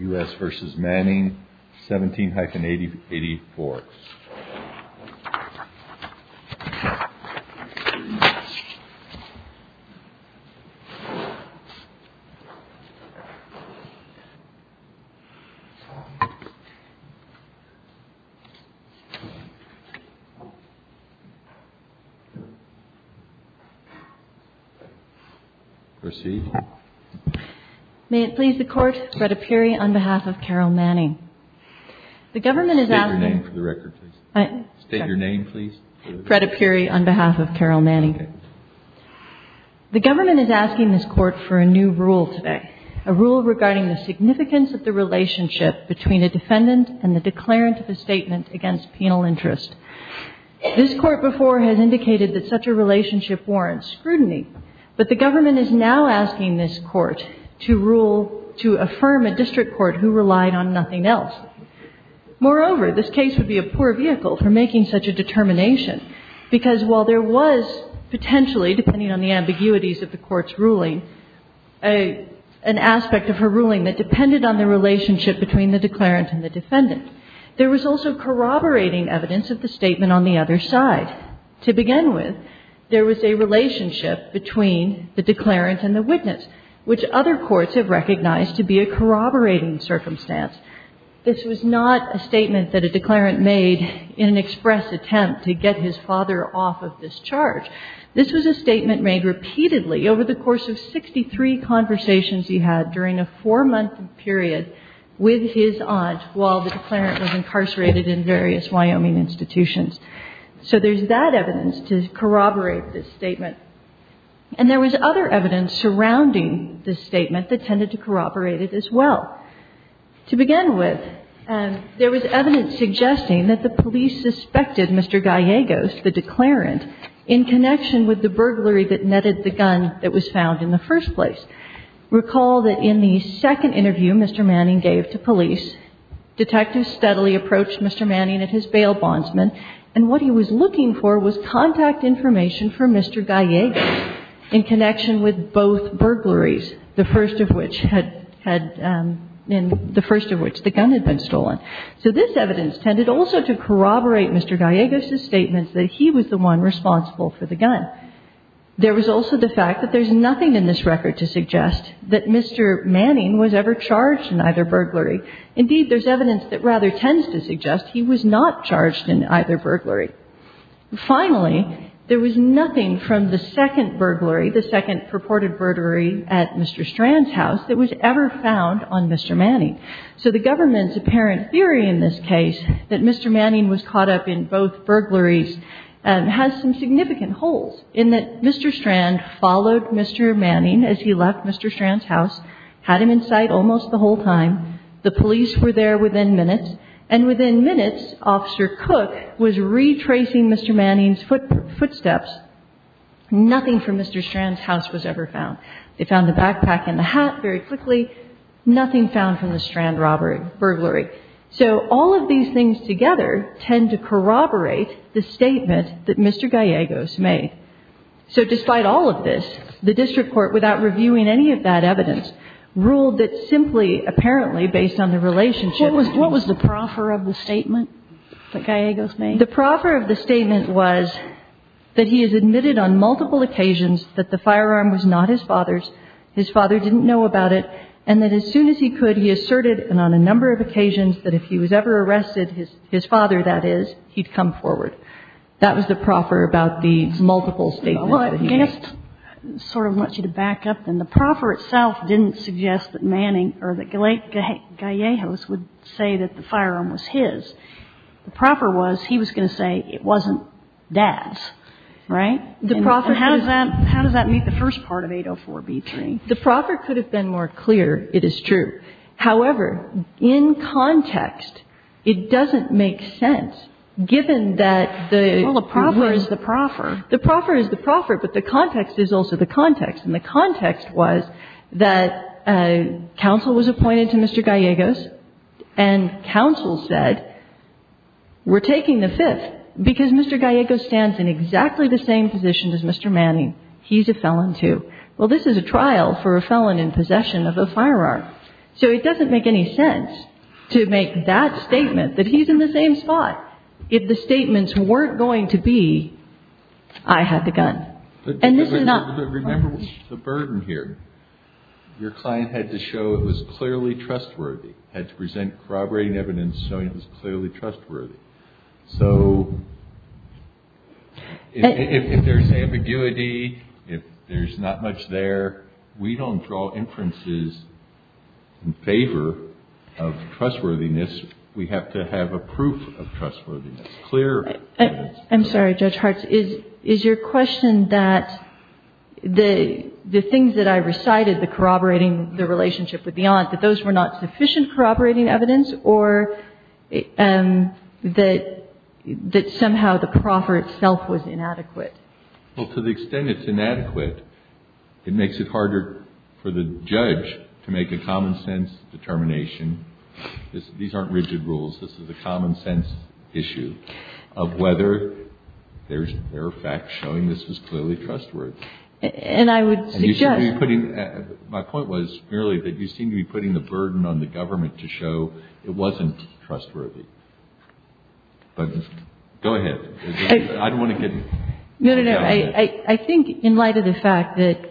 17-84 May it please the Court, Brett Apieri on behalf of the U.S. Department of Justice on behalf of Carol Manning. The government is asking this Court for a new rule today, a rule regarding the significance of the relationship between a defendant and the declarant of a statement against penal interest. This Court before has indicated that such a relationship warrants scrutiny, but the government is now asking this Court to rule, to affirm a district court who relied on nothing else. Moreover, this case would be a poor vehicle for making such a determination, because while there was potentially, depending on the ambiguities of the Court's ruling, an aspect of her ruling that depended on the relationship between the declarant and the defendant, there was also corroborating evidence of the statement on the other side. To begin with, there was a relationship between the declarant and the witness, which other courts have recognized to be a corroborating circumstance. This was not a statement that a declarant made in an express attempt to get his father off of this charge. This was a statement made repeatedly over the course of 63 conversations he had during a four-month period with his aunt while the declarant was incarcerated in various Wyoming institutions. So there's that evidence to corroborate this statement. And there was other evidence surrounding this statement that tended to corroborate it as well. To begin with, there was evidence suggesting that the police suspected Mr. Gallegos, the declarant, in connection with the burglary that netted the gun that was found in the first place. Recall that in the second interview Mr. Manning gave to police, detectives steadily approached Mr. Manning at his bail bondsman, and what he was looking for was contact information for Mr. Gallegos in connection with both burglaries, the first of which had had been the first of which the gun had been stolen. So this evidence tended also to corroborate Mr. Gallegos' statement that he was the one responsible for the gun. There was also the fact that there's nothing in this record to suggest that Mr. Manning was ever charged in either burglary. Indeed, there's evidence that rather tends to suggest he was not charged in either burglary. Finally, there was nothing from the second burglary, the second purported burglary at Mr. Strand's house that was ever found on Mr. Manning. So the government's apparent theory in this case that Mr. Manning was caught up in both burglaries has some significant holes in that Mr. Strand followed Mr. Manning as he left Mr. Manning's house for a long time. The police were there within minutes, and within minutes, Officer Cook was retracing Mr. Manning's footsteps. Nothing from Mr. Strand's house was ever found. They found the backpack and the hat very quickly. Nothing found from the Strand robbery, burglary. So all of these things together tend to corroborate the statement that Mr. Gallegos made. So despite all of this, the district court, without reviewing any of that evidence, ruled that simply, apparently, based on the relationship. What was the proffer of the statement that Gallegos made? The proffer of the statement was that he has admitted on multiple occasions that the firearm was not his father's, his father didn't know about it, and that as soon as he could, he asserted, and on a number of occasions, that if he was ever arrested, his father, that is, he'd come forward. That was the proffer about the multiple statements that he made. Well, I guess, sort of, I want you to back up, then. The proffer itself didn't suggest that Manning, or that Gallegos would say that the firearm was his. The proffer was, he was going to say it wasn't dad's, right? And how does that meet the first part of 804-B3? The proffer could have been more clear, it is true. However, in context, it doesn't make sense, given that the ---- Well, the proffer is the proffer. The proffer is the proffer, but the context is also the context. And the context was that counsel was appointed to Mr. Gallegos, and counsel said, we're taking the fifth, because Mr. Gallegos stands in exactly the same position as Mr. Manning. He's a felon, too. Well, this is a trial for a felon in possession of a firearm. So it doesn't make any sense to make that statement, that he's in the same spot, if the statements weren't going to be, I had the gun. And this is not ---- But remember the burden here. Your client had to show it was clearly trustworthy, had to present corroborating evidence showing it was clearly trustworthy. So if there's ambiguity, if there's not much there, we don't draw inferences in favor of trustworthiness. We have to have a proof of trustworthiness, clear evidence. I'm sorry, Judge Hartz. Is your question that the things that I recited, the corroborating the relationship with the aunt, that those were not sufficient corroborating evidence, or that somehow the proffer itself was inadequate? Well, to the extent it's inadequate, it makes it harder for the judge to make a common sense determination. These aren't rigid rules. This is a common sense issue of whether there are facts showing this is clearly trustworthy. And I would suggest ---- My point was merely that you seem to be putting the burden on the government to show it wasn't trustworthy. But go ahead. I don't want to get ---- No, no, no. I think in light of the fact that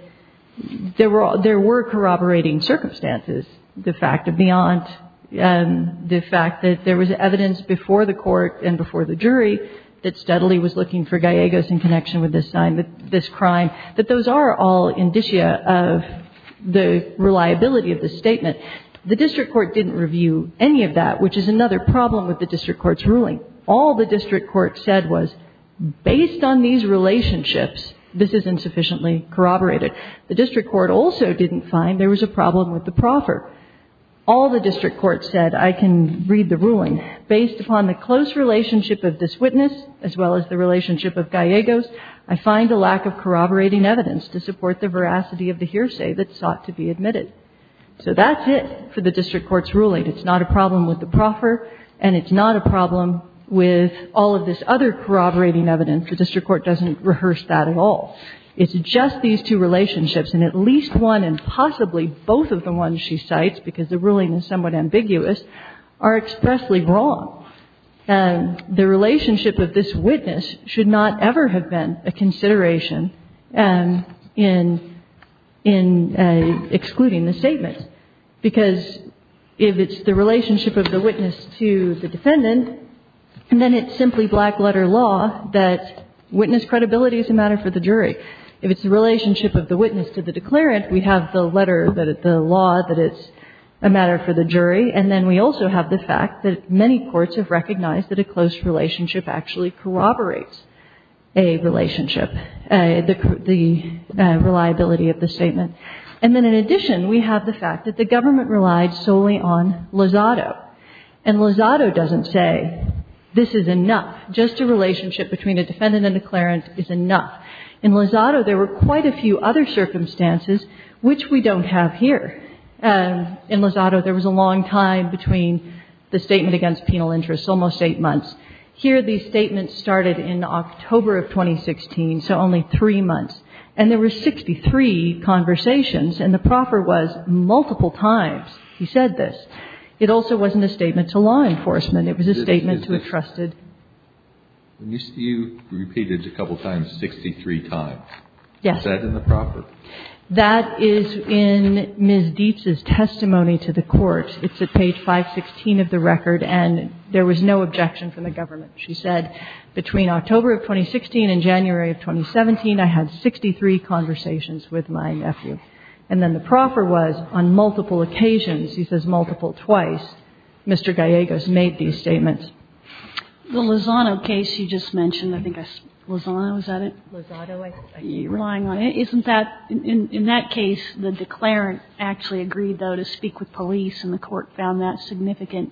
there were corroborating circumstances, the fact of the aunt, the fact that there was evidence before the court and before the jury that steadily was looking for Gallegos in connection with this crime, that those are all indicia of the reliability of the statement. The district court didn't review any of that, which is another problem with the district court's ruling. All the district court said was, based on these relationships, this is insufficiently corroborated. The district court also didn't find there was a problem with the proffer. All the district court said, I can read the ruling. Based upon the close relationship of this witness as well as the relationship of Gallegos, I find a lack of corroborating evidence to support the veracity of the hearsay that sought to be admitted. So that's it for the district court's ruling. It's not a problem with the proffer and it's not a problem with all of this other corroborating evidence. And the district court doesn't rehearse that at all. It's just these two relationships and at least one and possibly both of the ones she cites, because the ruling is somewhat ambiguous, are expressly wrong. The relationship of this witness should not ever have been a consideration in excluding the statement, because if it's the relationship of the witness to the defendant, then it's simply black letter law that witness credibility is a matter for the jury. If it's the relationship of the witness to the declarant, we have the letter, the law, that it's a matter for the jury. And then we also have the fact that many courts have recognized that a close relationship actually corroborates a relationship, the reliability of the statement. And then in addition, we have the fact that the government relied solely on Lozado. And Lozado doesn't say this is enough. Just a relationship between a defendant and a declarant is enough. In Lozado, there were quite a few other circumstances which we don't have here. In Lozado, there was a long time between the statement against penal interest, almost eight months. Here, the statement started in October of 2016, so only three months. And there were 63 conversations and the proffer was multiple times he said this. It also wasn't a statement to law enforcement. It was a statement to a trusted ---- You repeated it a couple times, 63 times. Yes. Is that in the proffer? That is in Ms. Dietz's testimony to the court. It's at page 516 of the record, and there was no objection from the government. She said, between October of 2016 and January of 2017, I had 63 conversations with my nephew. And then the proffer was on multiple occasions. He says multiple twice. Mr. Gallegos made these statements. The Lozado case you just mentioned, I think Lozado, is that it? Lozado. You're lying on it. Isn't that ---- in that case, the declarant actually agreed, though, to speak with police, and the court found that significant,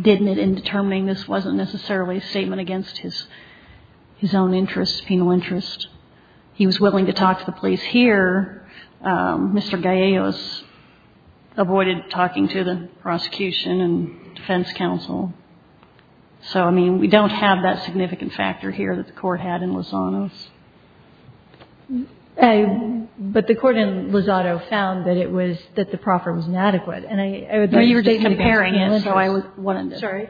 didn't it, in determining this wasn't necessarily a statement against his own interests, penal interest. He was willing to talk to the police. But here, Mr. Gallegos avoided talking to the prosecution and defense counsel. So, I mean, we don't have that significant factor here that the court had in Lozado's. But the court in Lozado found that it was ---- that the proffer was inadequate. And I ---- No, you were just comparing it, so I was ---- Sorry.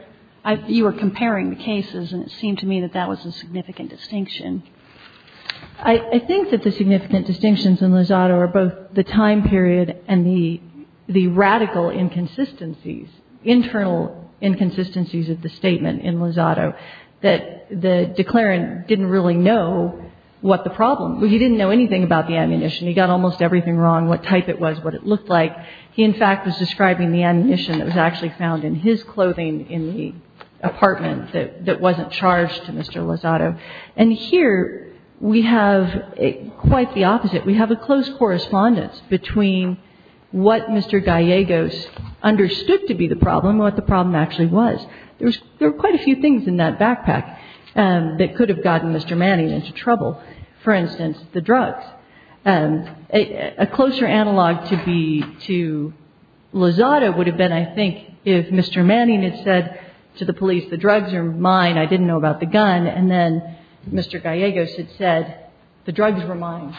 You were comparing the cases, and it seemed to me that that was a significant distinction. I think that the significant distinctions in Lozado are both the time period and the radical inconsistencies, internal inconsistencies of the statement in Lozado, that the declarant didn't really know what the problem was. He didn't know anything about the ammunition. He got almost everything wrong, what type it was, what it looked like. He, in fact, was describing the ammunition that was actually found in his clothing in the apartment that wasn't charged to Mr. Lozado. And here we have quite the opposite. We have a close correspondence between what Mr. Gallegos understood to be the problem and what the problem actually was. There was ---- there were quite a few things in that backpack that could have gotten Mr. Manning into trouble. For instance, the drugs. A closer analog to be to Lozado would have been, I think, if Mr. Manning had said to the police, the drugs are mine, I didn't know about the gun. And then Mr. Gallegos had said, the drugs were mine.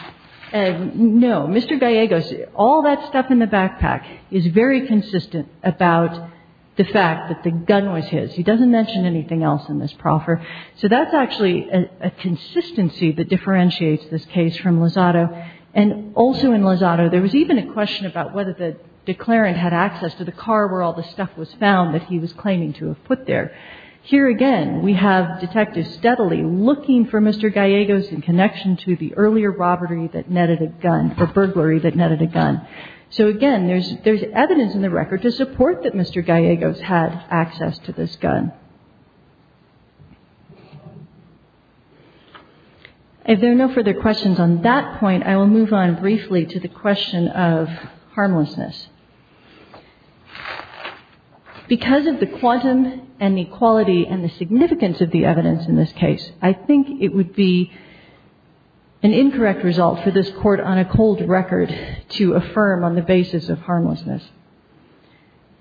And no, Mr. Gallegos, all that stuff in the backpack is very consistent about the fact that the gun was his. He doesn't mention anything else in this proffer. So that's actually a consistency that differentiates this case from Lozado. And also in Lozado, there was even a question about whether the declarant had access to the car where all the stuff was found that he was claiming to have put there. Here again, we have detectives steadily looking for Mr. Gallegos in connection to the earlier robbery that netted a gun or burglary that netted a gun. So again, there's evidence in the record to support that Mr. Gallegos had access to this gun. If there are no further questions on that point, I will move on briefly to the question of harmlessness. Because of the quantum inequality and the significance of the evidence in this case, I think it would be an incorrect result for this Court on a cold record to affirm on the basis of harmlessness.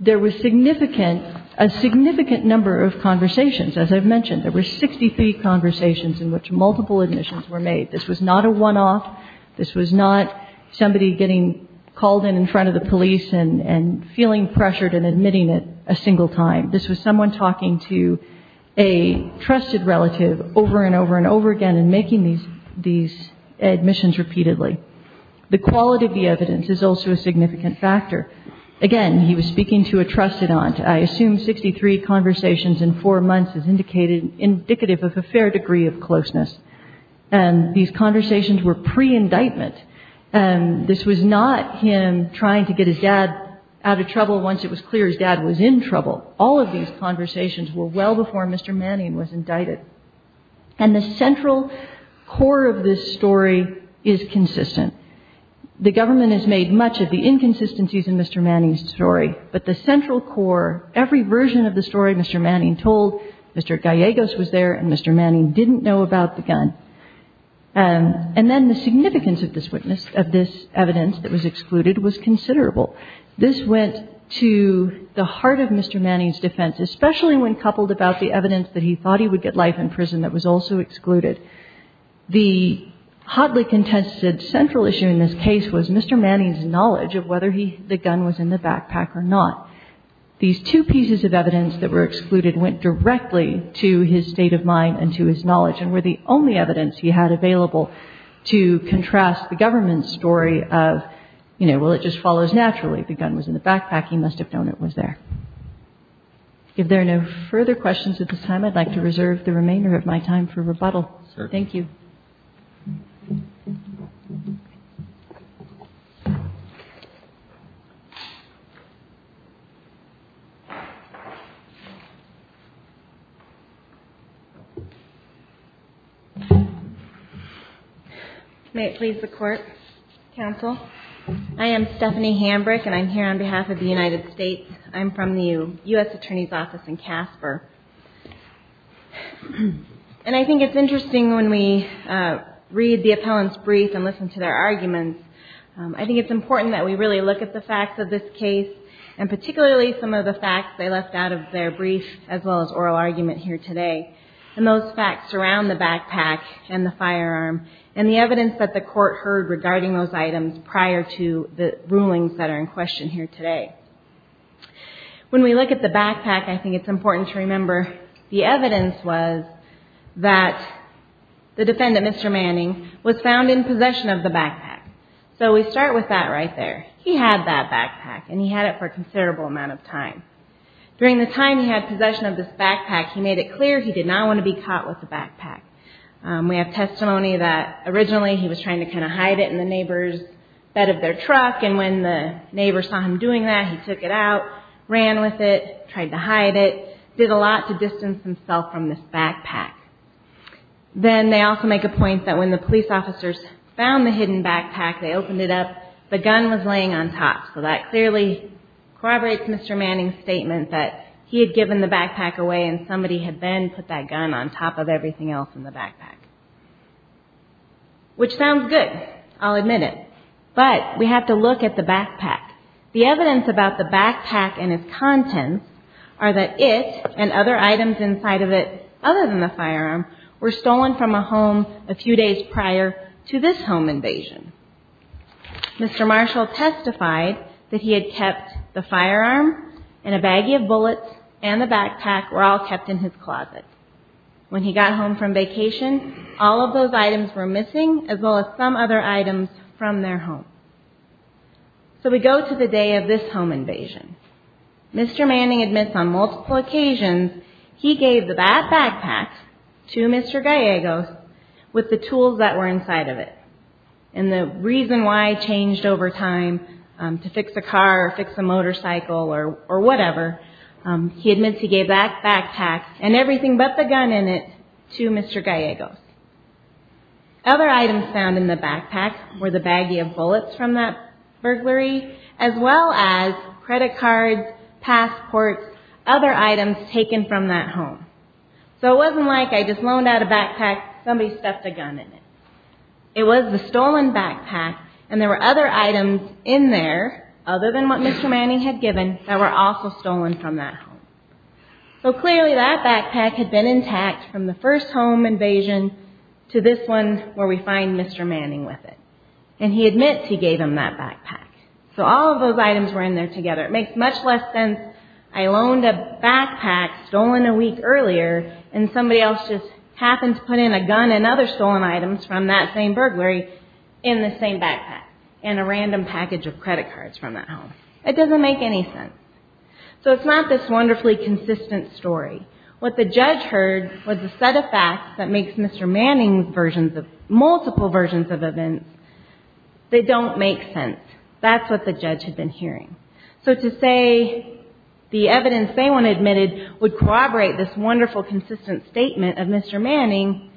There was significant, a significant number of conversations. As I've mentioned, there were 63 conversations in which multiple admissions were made. This was not a one-off. This was not somebody getting called in in front of the police and feeling pressured and admitting it a single time. This was someone talking to a trusted relative over and over and over again and making these admissions repeatedly. The quality of the evidence is also a significant factor. Again, he was speaking to a trusted aunt. I assume 63 conversations in four months is indicative of a fair degree of closeness. And these conversations were pre-indictment. This was not him trying to get his dad out of trouble once it was clear his dad was in trouble. All of these conversations were well before Mr. Manning was indicted. And the central core of this story is consistent. The government has made much of the inconsistencies in Mr. Manning's story, but the central core, every version of the story Mr. Manning told, Mr. Gallegos was there and Mr. Manning didn't know about the gun. And then the significance of this witness, of this evidence that was excluded, was considerable. This went to the heart of Mr. Manning's defense, especially when coupled about the evidence that he thought he would get life in prison that was also excluded. The hotly contested central issue in this case was Mr. Manning's knowledge of whether the gun was in the backpack or not. These two pieces of evidence that were excluded went directly to his state of mind and to his knowledge and were the only evidence he had available to contrast the government's story of, you know, well, it just follows naturally. The gun was in the backpack. He must have known it was there. If there are no further questions at this time, I'd like to reserve the remainder of my time for rebuttal. Thank you. May it please the Court, Counsel. I am Stephanie Hambrick and I'm here on behalf of the United States. I'm from the U.S. Attorney's Office in Casper. And I think it's interesting when we read the appellant's brief and listen to their arguments, I think it's important that we really look at the facts of this case and particularly some of the facts they left out of their brief as well as oral argument here today. And those facts surround the backpack and the firearm and the evidence that the Court heard regarding those items prior to the rulings that are in question here today. When we look at the backpack, I think it's important to remember the evidence was that the defendant, Mr. Manning, was found in possession of the backpack. So we start with that right there. He had that backpack and he had it for a considerable amount of time. During the time he had possession of this backpack, he made it clear he did not want to be caught with the backpack. We have testimony that originally he was trying to kind of hide it in the neighbor's bed of their truck, and when the neighbor saw him doing that, he took it out, ran with it, tried to hide it, did a lot to distance himself from this backpack. Then they also make a point that when the police officers found the hidden backpack, they opened it up, the gun was laying on top. So that clearly corroborates Mr. Manning's statement that he had given the backpack away and somebody had then put that gun on top of everything else in the backpack. Which sounds good. I'll admit it. But we have to look at the backpack. The evidence about the backpack and its contents are that it and other items inside of it, other than the firearm, were stolen from a home a few days prior to this home invasion. Mr. Marshall testified that he had kept the firearm and a baggie of bullets and the backpack were all kept in his closet. When he got home from vacation, all of those items were missing as well as some other items from their home. So we go to the day of this home invasion. Mr. Manning admits on multiple occasions he gave that backpack to Mr. Gallegos with the tools that were inside of it. And the reason why it changed over time to fix a car or fix a motorcycle or whatever, he admits he gave that backpack and everything but the gun in it to Mr. Gallegos. Other items found in the backpack were the baggie of bullets from that burglary as well as credit cards, passports, other items taken from that home. So it wasn't like I just loaned out a backpack, somebody stuffed a gun in it. It was the stolen backpack and there were other items in there, other than what Mr. Manning had given, that were also stolen from that home. So clearly that backpack had been intact from the first home invasion to this one where we find Mr. Manning with it. And he admits he gave him that backpack. So all of those items were in there together. It makes much less sense I loaned a backpack stolen a week earlier and somebody else just happens to put in a gun and other stolen items from that same burglary in the same backpack and a random package of credit cards from that home. It doesn't make any sense. So it's not this wonderfully consistent story. What the judge heard was a set of facts that makes Mr. Manning's multiple versions of events that don't make sense. That's what the judge had been hearing. So to say the evidence they want admitted would corroborate this wonderful consistent statement of Mr. Manning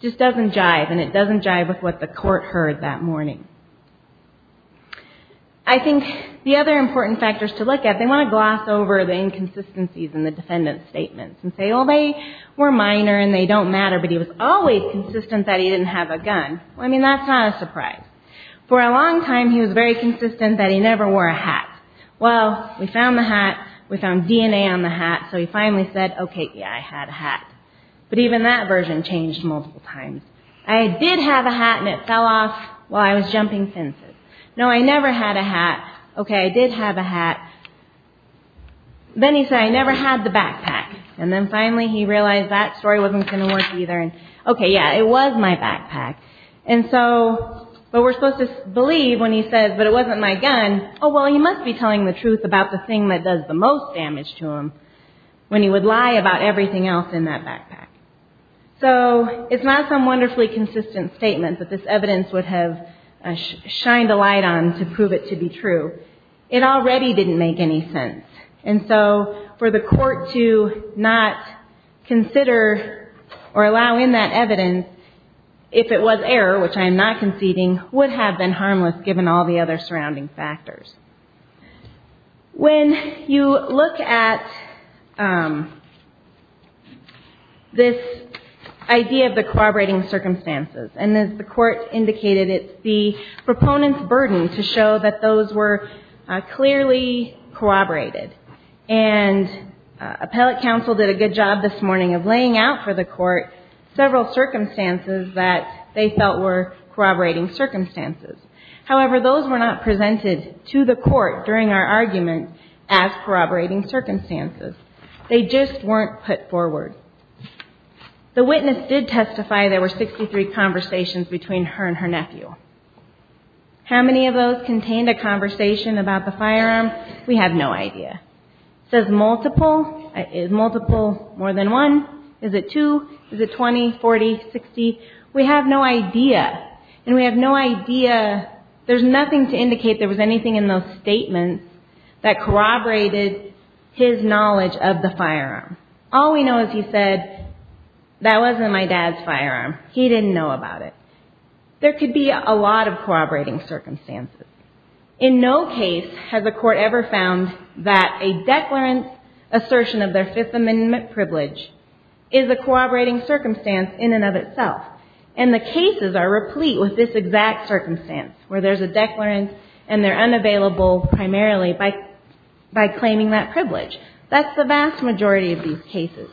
just doesn't jive and it doesn't jive with what the court heard that morning. I think the other important factors to look at, they want to gloss over the inconsistencies in the defendant's statements and say, well, they were minor and they don't matter, but he was always consistent that he didn't have a gun. Well, I mean, that's not a surprise. For a long time, he was very consistent that he never wore a hat. Well, we found the hat, we found DNA on the hat, so he finally said, okay, yeah, I had a hat. But even that version changed multiple times. I did have a hat and it fell off while I was jumping fences. No, I never had a hat. Okay, I did have a hat. Then he said, I never had the backpack. And then finally he realized that story wasn't going to work either. Okay, yeah, it was my backpack. And so, but we're supposed to believe when he says, but it wasn't my gun. Oh, well, he must be telling the truth about the thing that does the most damage to him when he would lie about everything else in that backpack. So it's not some wonderfully consistent statement that this evidence would have shined a light on to prove it to be true. It already didn't make any sense. And so for the court to not consider or allow in that evidence, if it was error, which I am not conceding, would have been harmless given all the other surrounding factors. When you look at this idea of the corroborating circumstances, and as the court indicated, it's the proponent's burden to show that those were clearly corroborated. And appellate counsel did a good job this morning of laying out for the court several circumstances that they felt were corroborating circumstances. However, those were not presented to the court during our argument as corroborating circumstances. They just weren't put forward. The witness did testify there were 63 conversations between her and her nephew. How many of those contained a conversation about the firearm? We have no idea. Does multiple, is multiple more than one? Is it two? Is it 20, 40, 60? We have no idea. And we have no idea, there's nothing to indicate there was anything in those statements that corroborated his knowledge of the firearm. All we know is he said, that wasn't my dad's firearm. He didn't know about it. There could be a lot of corroborating circumstances. In no case has a court ever found that a declarant's assertion of their Fifth Amendment privilege is a corroborating circumstance in and of itself. And the cases are replete with this exact circumstance, where there's a declarant and they're unavailable primarily by claiming that privilege. That's the vast majority of these cases.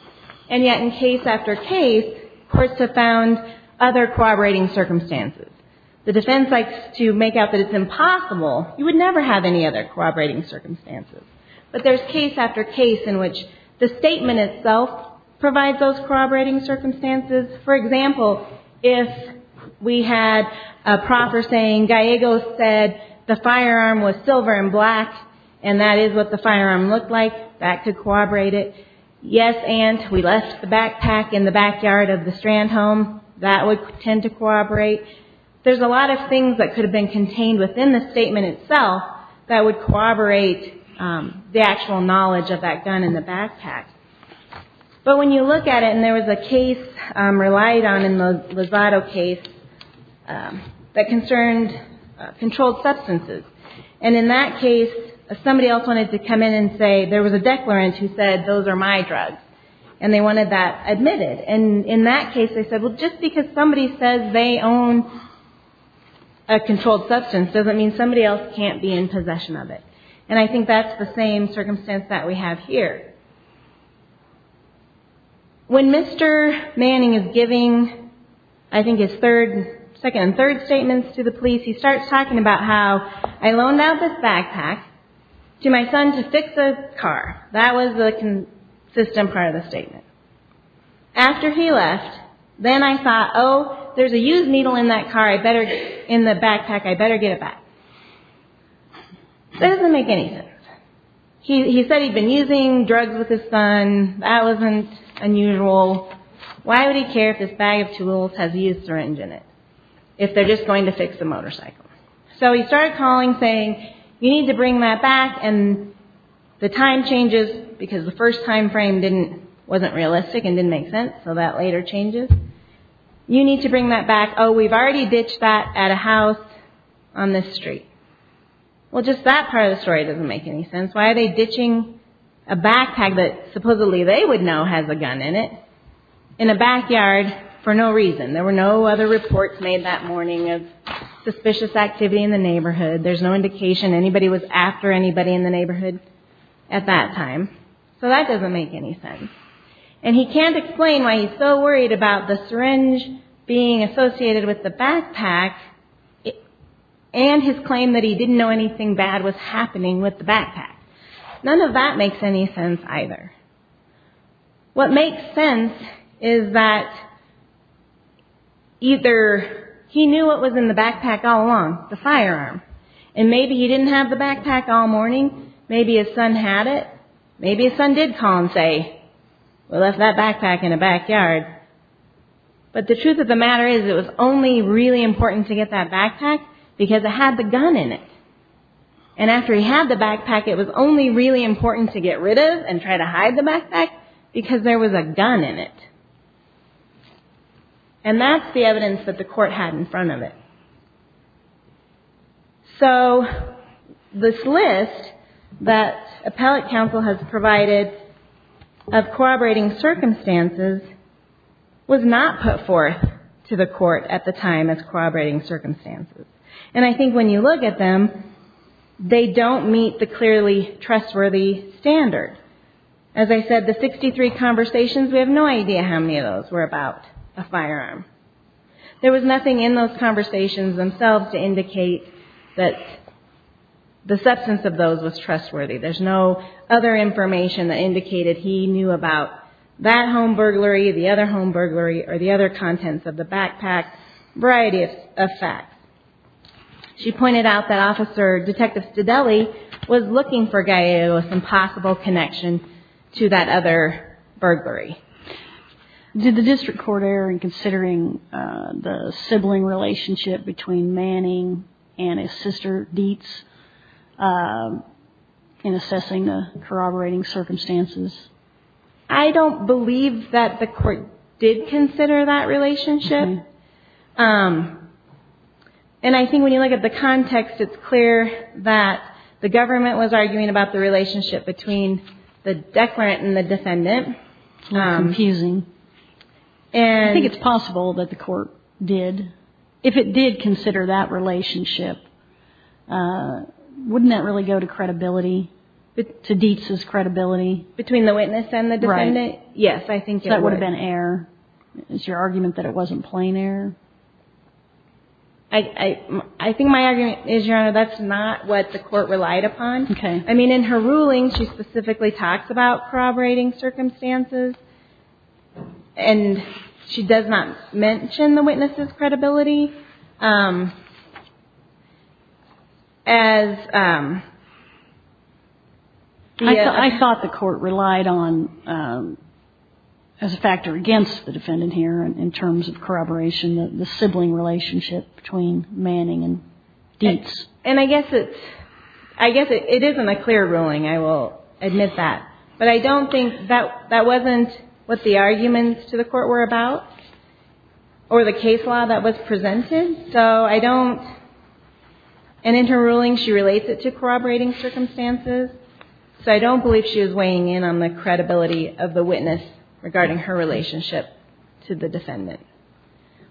And yet in case after case, courts have found other corroborating circumstances. The defense likes to make out that it's impossible. You would never have any other corroborating circumstances. But there's case after case in which the statement itself provides those corroborating circumstances. For example, if we had a proffer saying, Gallego said the firearm was silver and black and that is what the firearm looked like, that could corroborate it. Yes, aunt, we left the backpack in the backyard of the Strandhome. That would tend to corroborate. There's a lot of things that could have been contained within the statement itself that would corroborate the actual knowledge of that gun in the backpack. But when you look at it, and there was a case relied on in the Lozado case that concerned controlled substances. And in that case, somebody else wanted to come in and say there was a declarant who said those are my drugs. And they wanted that admitted. And in that case, they said, well, just because somebody says they own a controlled substance doesn't mean somebody else can't be in possession of it. And I think that's the same circumstance that we have here. When Mr. Manning is giving, I think, his second and third statements to the police, he starts talking about how I loaned out this backpack to my son to fix a car. That was the consistent part of the statement. After he left, then I thought, oh, there's a used needle in that car. In the backpack, I better get it back. That doesn't make any sense. He said he'd been using drugs with his son. That wasn't unusual. Why would he care if this bag of tools has used syringe in it if they're just going to fix the motorcycle? So he started calling saying, you need to bring that back. And the time changes because the first time frame wasn't realistic and didn't make sense. So that later changes. You need to bring that back. Oh, we've already ditched that at a house on this street. Well, just that part of the story doesn't make any sense. Why are they ditching a backpack that supposedly they would know has a gun in it in a backyard for no reason? There were no other reports made that morning of suspicious activity in the neighborhood. There's no indication anybody was after anybody in the neighborhood at that time. So that doesn't make any sense. And he can't explain why he's so worried about the syringe being associated with the backpack and his claim that he didn't know anything bad was happening with the backpack. None of that makes any sense either. What makes sense is that either he knew what was in the backpack all along, the firearm, and maybe he didn't have the backpack all morning. Maybe his son had it. Maybe his son did call and say, we left that backpack in the backyard. But the truth of the matter is it was only really important to get that backpack because it had the gun in it. And after he had the backpack, it was only really important to get rid of and try to hide the backpack because there was a gun in it. And that's the evidence that the court had in front of it. So this list that appellate counsel has provided of corroborating circumstances was not put forth to the court at the time as corroborating circumstances. And I think when you look at them, they don't meet the clearly trustworthy standard. As I said, the 63 conversations, we have no idea how many of those were about a firearm. There was nothing in those conversations themselves to indicate that the substance of those was trustworthy. There's no other information that indicated he knew about that home burglary, the other home burglary, or the other contents of the backpack, variety of facts. She pointed out that Officer Detective Stedelli was looking for Gallego with some possible connection to that other burglary. Did the district court err in considering the sibling relationship between Manning and his sister Dietz in assessing the corroborating circumstances? I don't believe that the court did consider that relationship. And I think when you look at the context, it's clear that the government was arguing about the relationship between the declarant and the defendant. It's confusing. I think it's possible that the court did. If it did consider that relationship, wouldn't that really go to credibility, to Dietz's credibility? Between the witness and the defendant? Yes, I think it would. So that would have been error. Is your argument that it wasn't plain error? I think my argument is, Your Honor, that's not what the court relied upon. Okay. I mean, in her ruling, she specifically talks about corroborating circumstances, and she does not mention the witness's credibility. I thought the court relied on, as a factor against the defendant here in terms of corroboration, the sibling relationship between Manning and Dietz. And I guess it isn't a clear ruling. I will admit that. But I don't think that wasn't what the arguments to the court were about or the case law that was presented. So I don't – and in her ruling, she relates it to corroborating circumstances. So I don't believe she was weighing in on the credibility of the witness regarding her relationship to the defendant.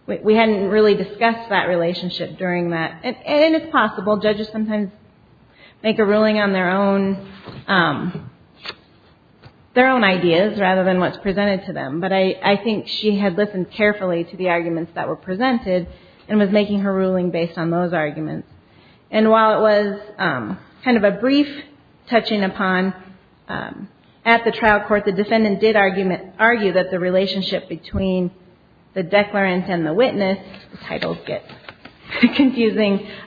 We hadn't really discussed that relationship during that. And it's possible. Judges sometimes make a ruling on their own ideas rather than what's presented to them. But I think she had listened carefully to the arguments that were presented and was making her ruling based on those arguments. And while it was kind of a brief touching upon at the trial court, the defendant did argue that the relationship between the declarant and the witness – the titles get confusing –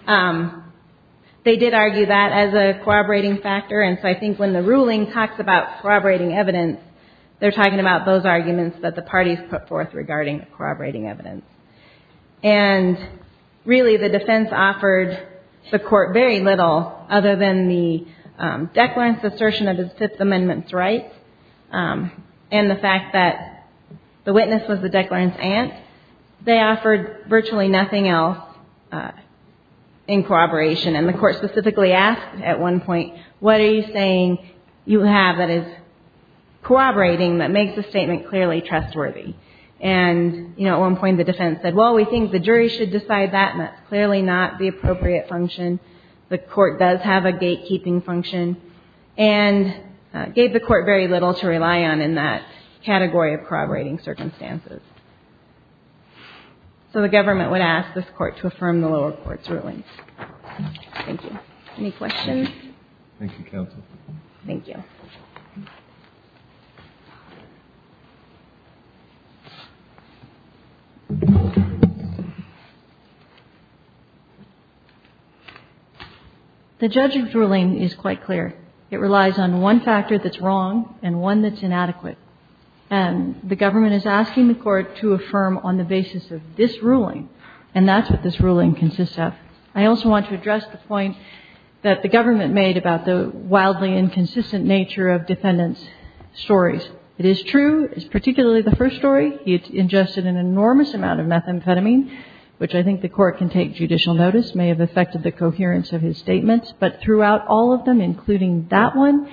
they did argue that as a corroborating factor. And so I think when the ruling talks about corroborating evidence, they're talking about those arguments that the parties put forth regarding corroborating evidence. And really, the defense offered the court very little other than the declarant's assertion of his Fifth Amendment rights and the fact that the witness was the declarant's aunt. They offered virtually nothing else in corroboration. And the court specifically asked at one point, what are you saying you have that is corroborating that makes the statement clearly trustworthy? And at one point, the defense said, well, we think the jury should decide that, and that's clearly not the appropriate function. The court does have a gatekeeping function. And gave the court very little to rely on in that category of corroborating circumstances. So the government would ask this court to affirm the lower court's ruling. Thank you. Any questions? Thank you, counsel. Thank you. The judge's ruling is quite clear. It relies on one factor that's wrong and one that's inadequate. And the government is asking the court to affirm on the basis of this ruling, and that's what this ruling consists of. I also want to address the point that the government made about the wildly inconsistent nature of defendants' stories. It is true, particularly the first story, he had ingested an enormous amount of methamphetamine, which I think the court can take judicial notice, may have affected the coherence of his statements. But throughout all of them, including that one,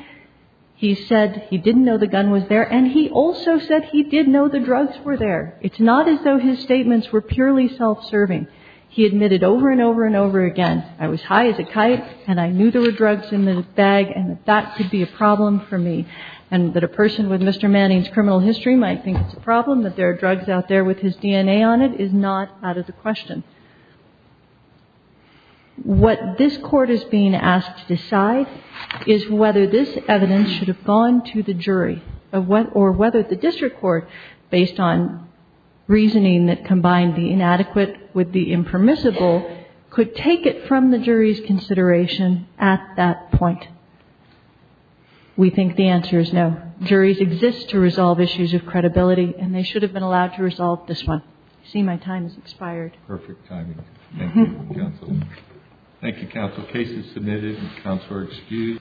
he said he didn't know the gun was there. And he also said he did know the drugs were there. It's not as though his statements were purely self-serving. He admitted over and over and over again, I was high as a kite and I knew there were drugs in the bag and that that could be a problem for me, and that a person would say, Mr. Manning's criminal history might think it's a problem that there are drugs out there with his DNA on it, is not out of the question. What this court is being asked to decide is whether this evidence should have gone to the jury, or whether the district court, based on reasoning that combined the inadequate with the impermissible, could take it from the jury's consideration at that point. We think the answer is no. Juries exist to resolve issues of credibility, and they should have been allowed to resolve this one. I see my time has expired. Perfect timing. Thank you, counsel. Thank you, counsel. Case is submitted. Counsel are excused.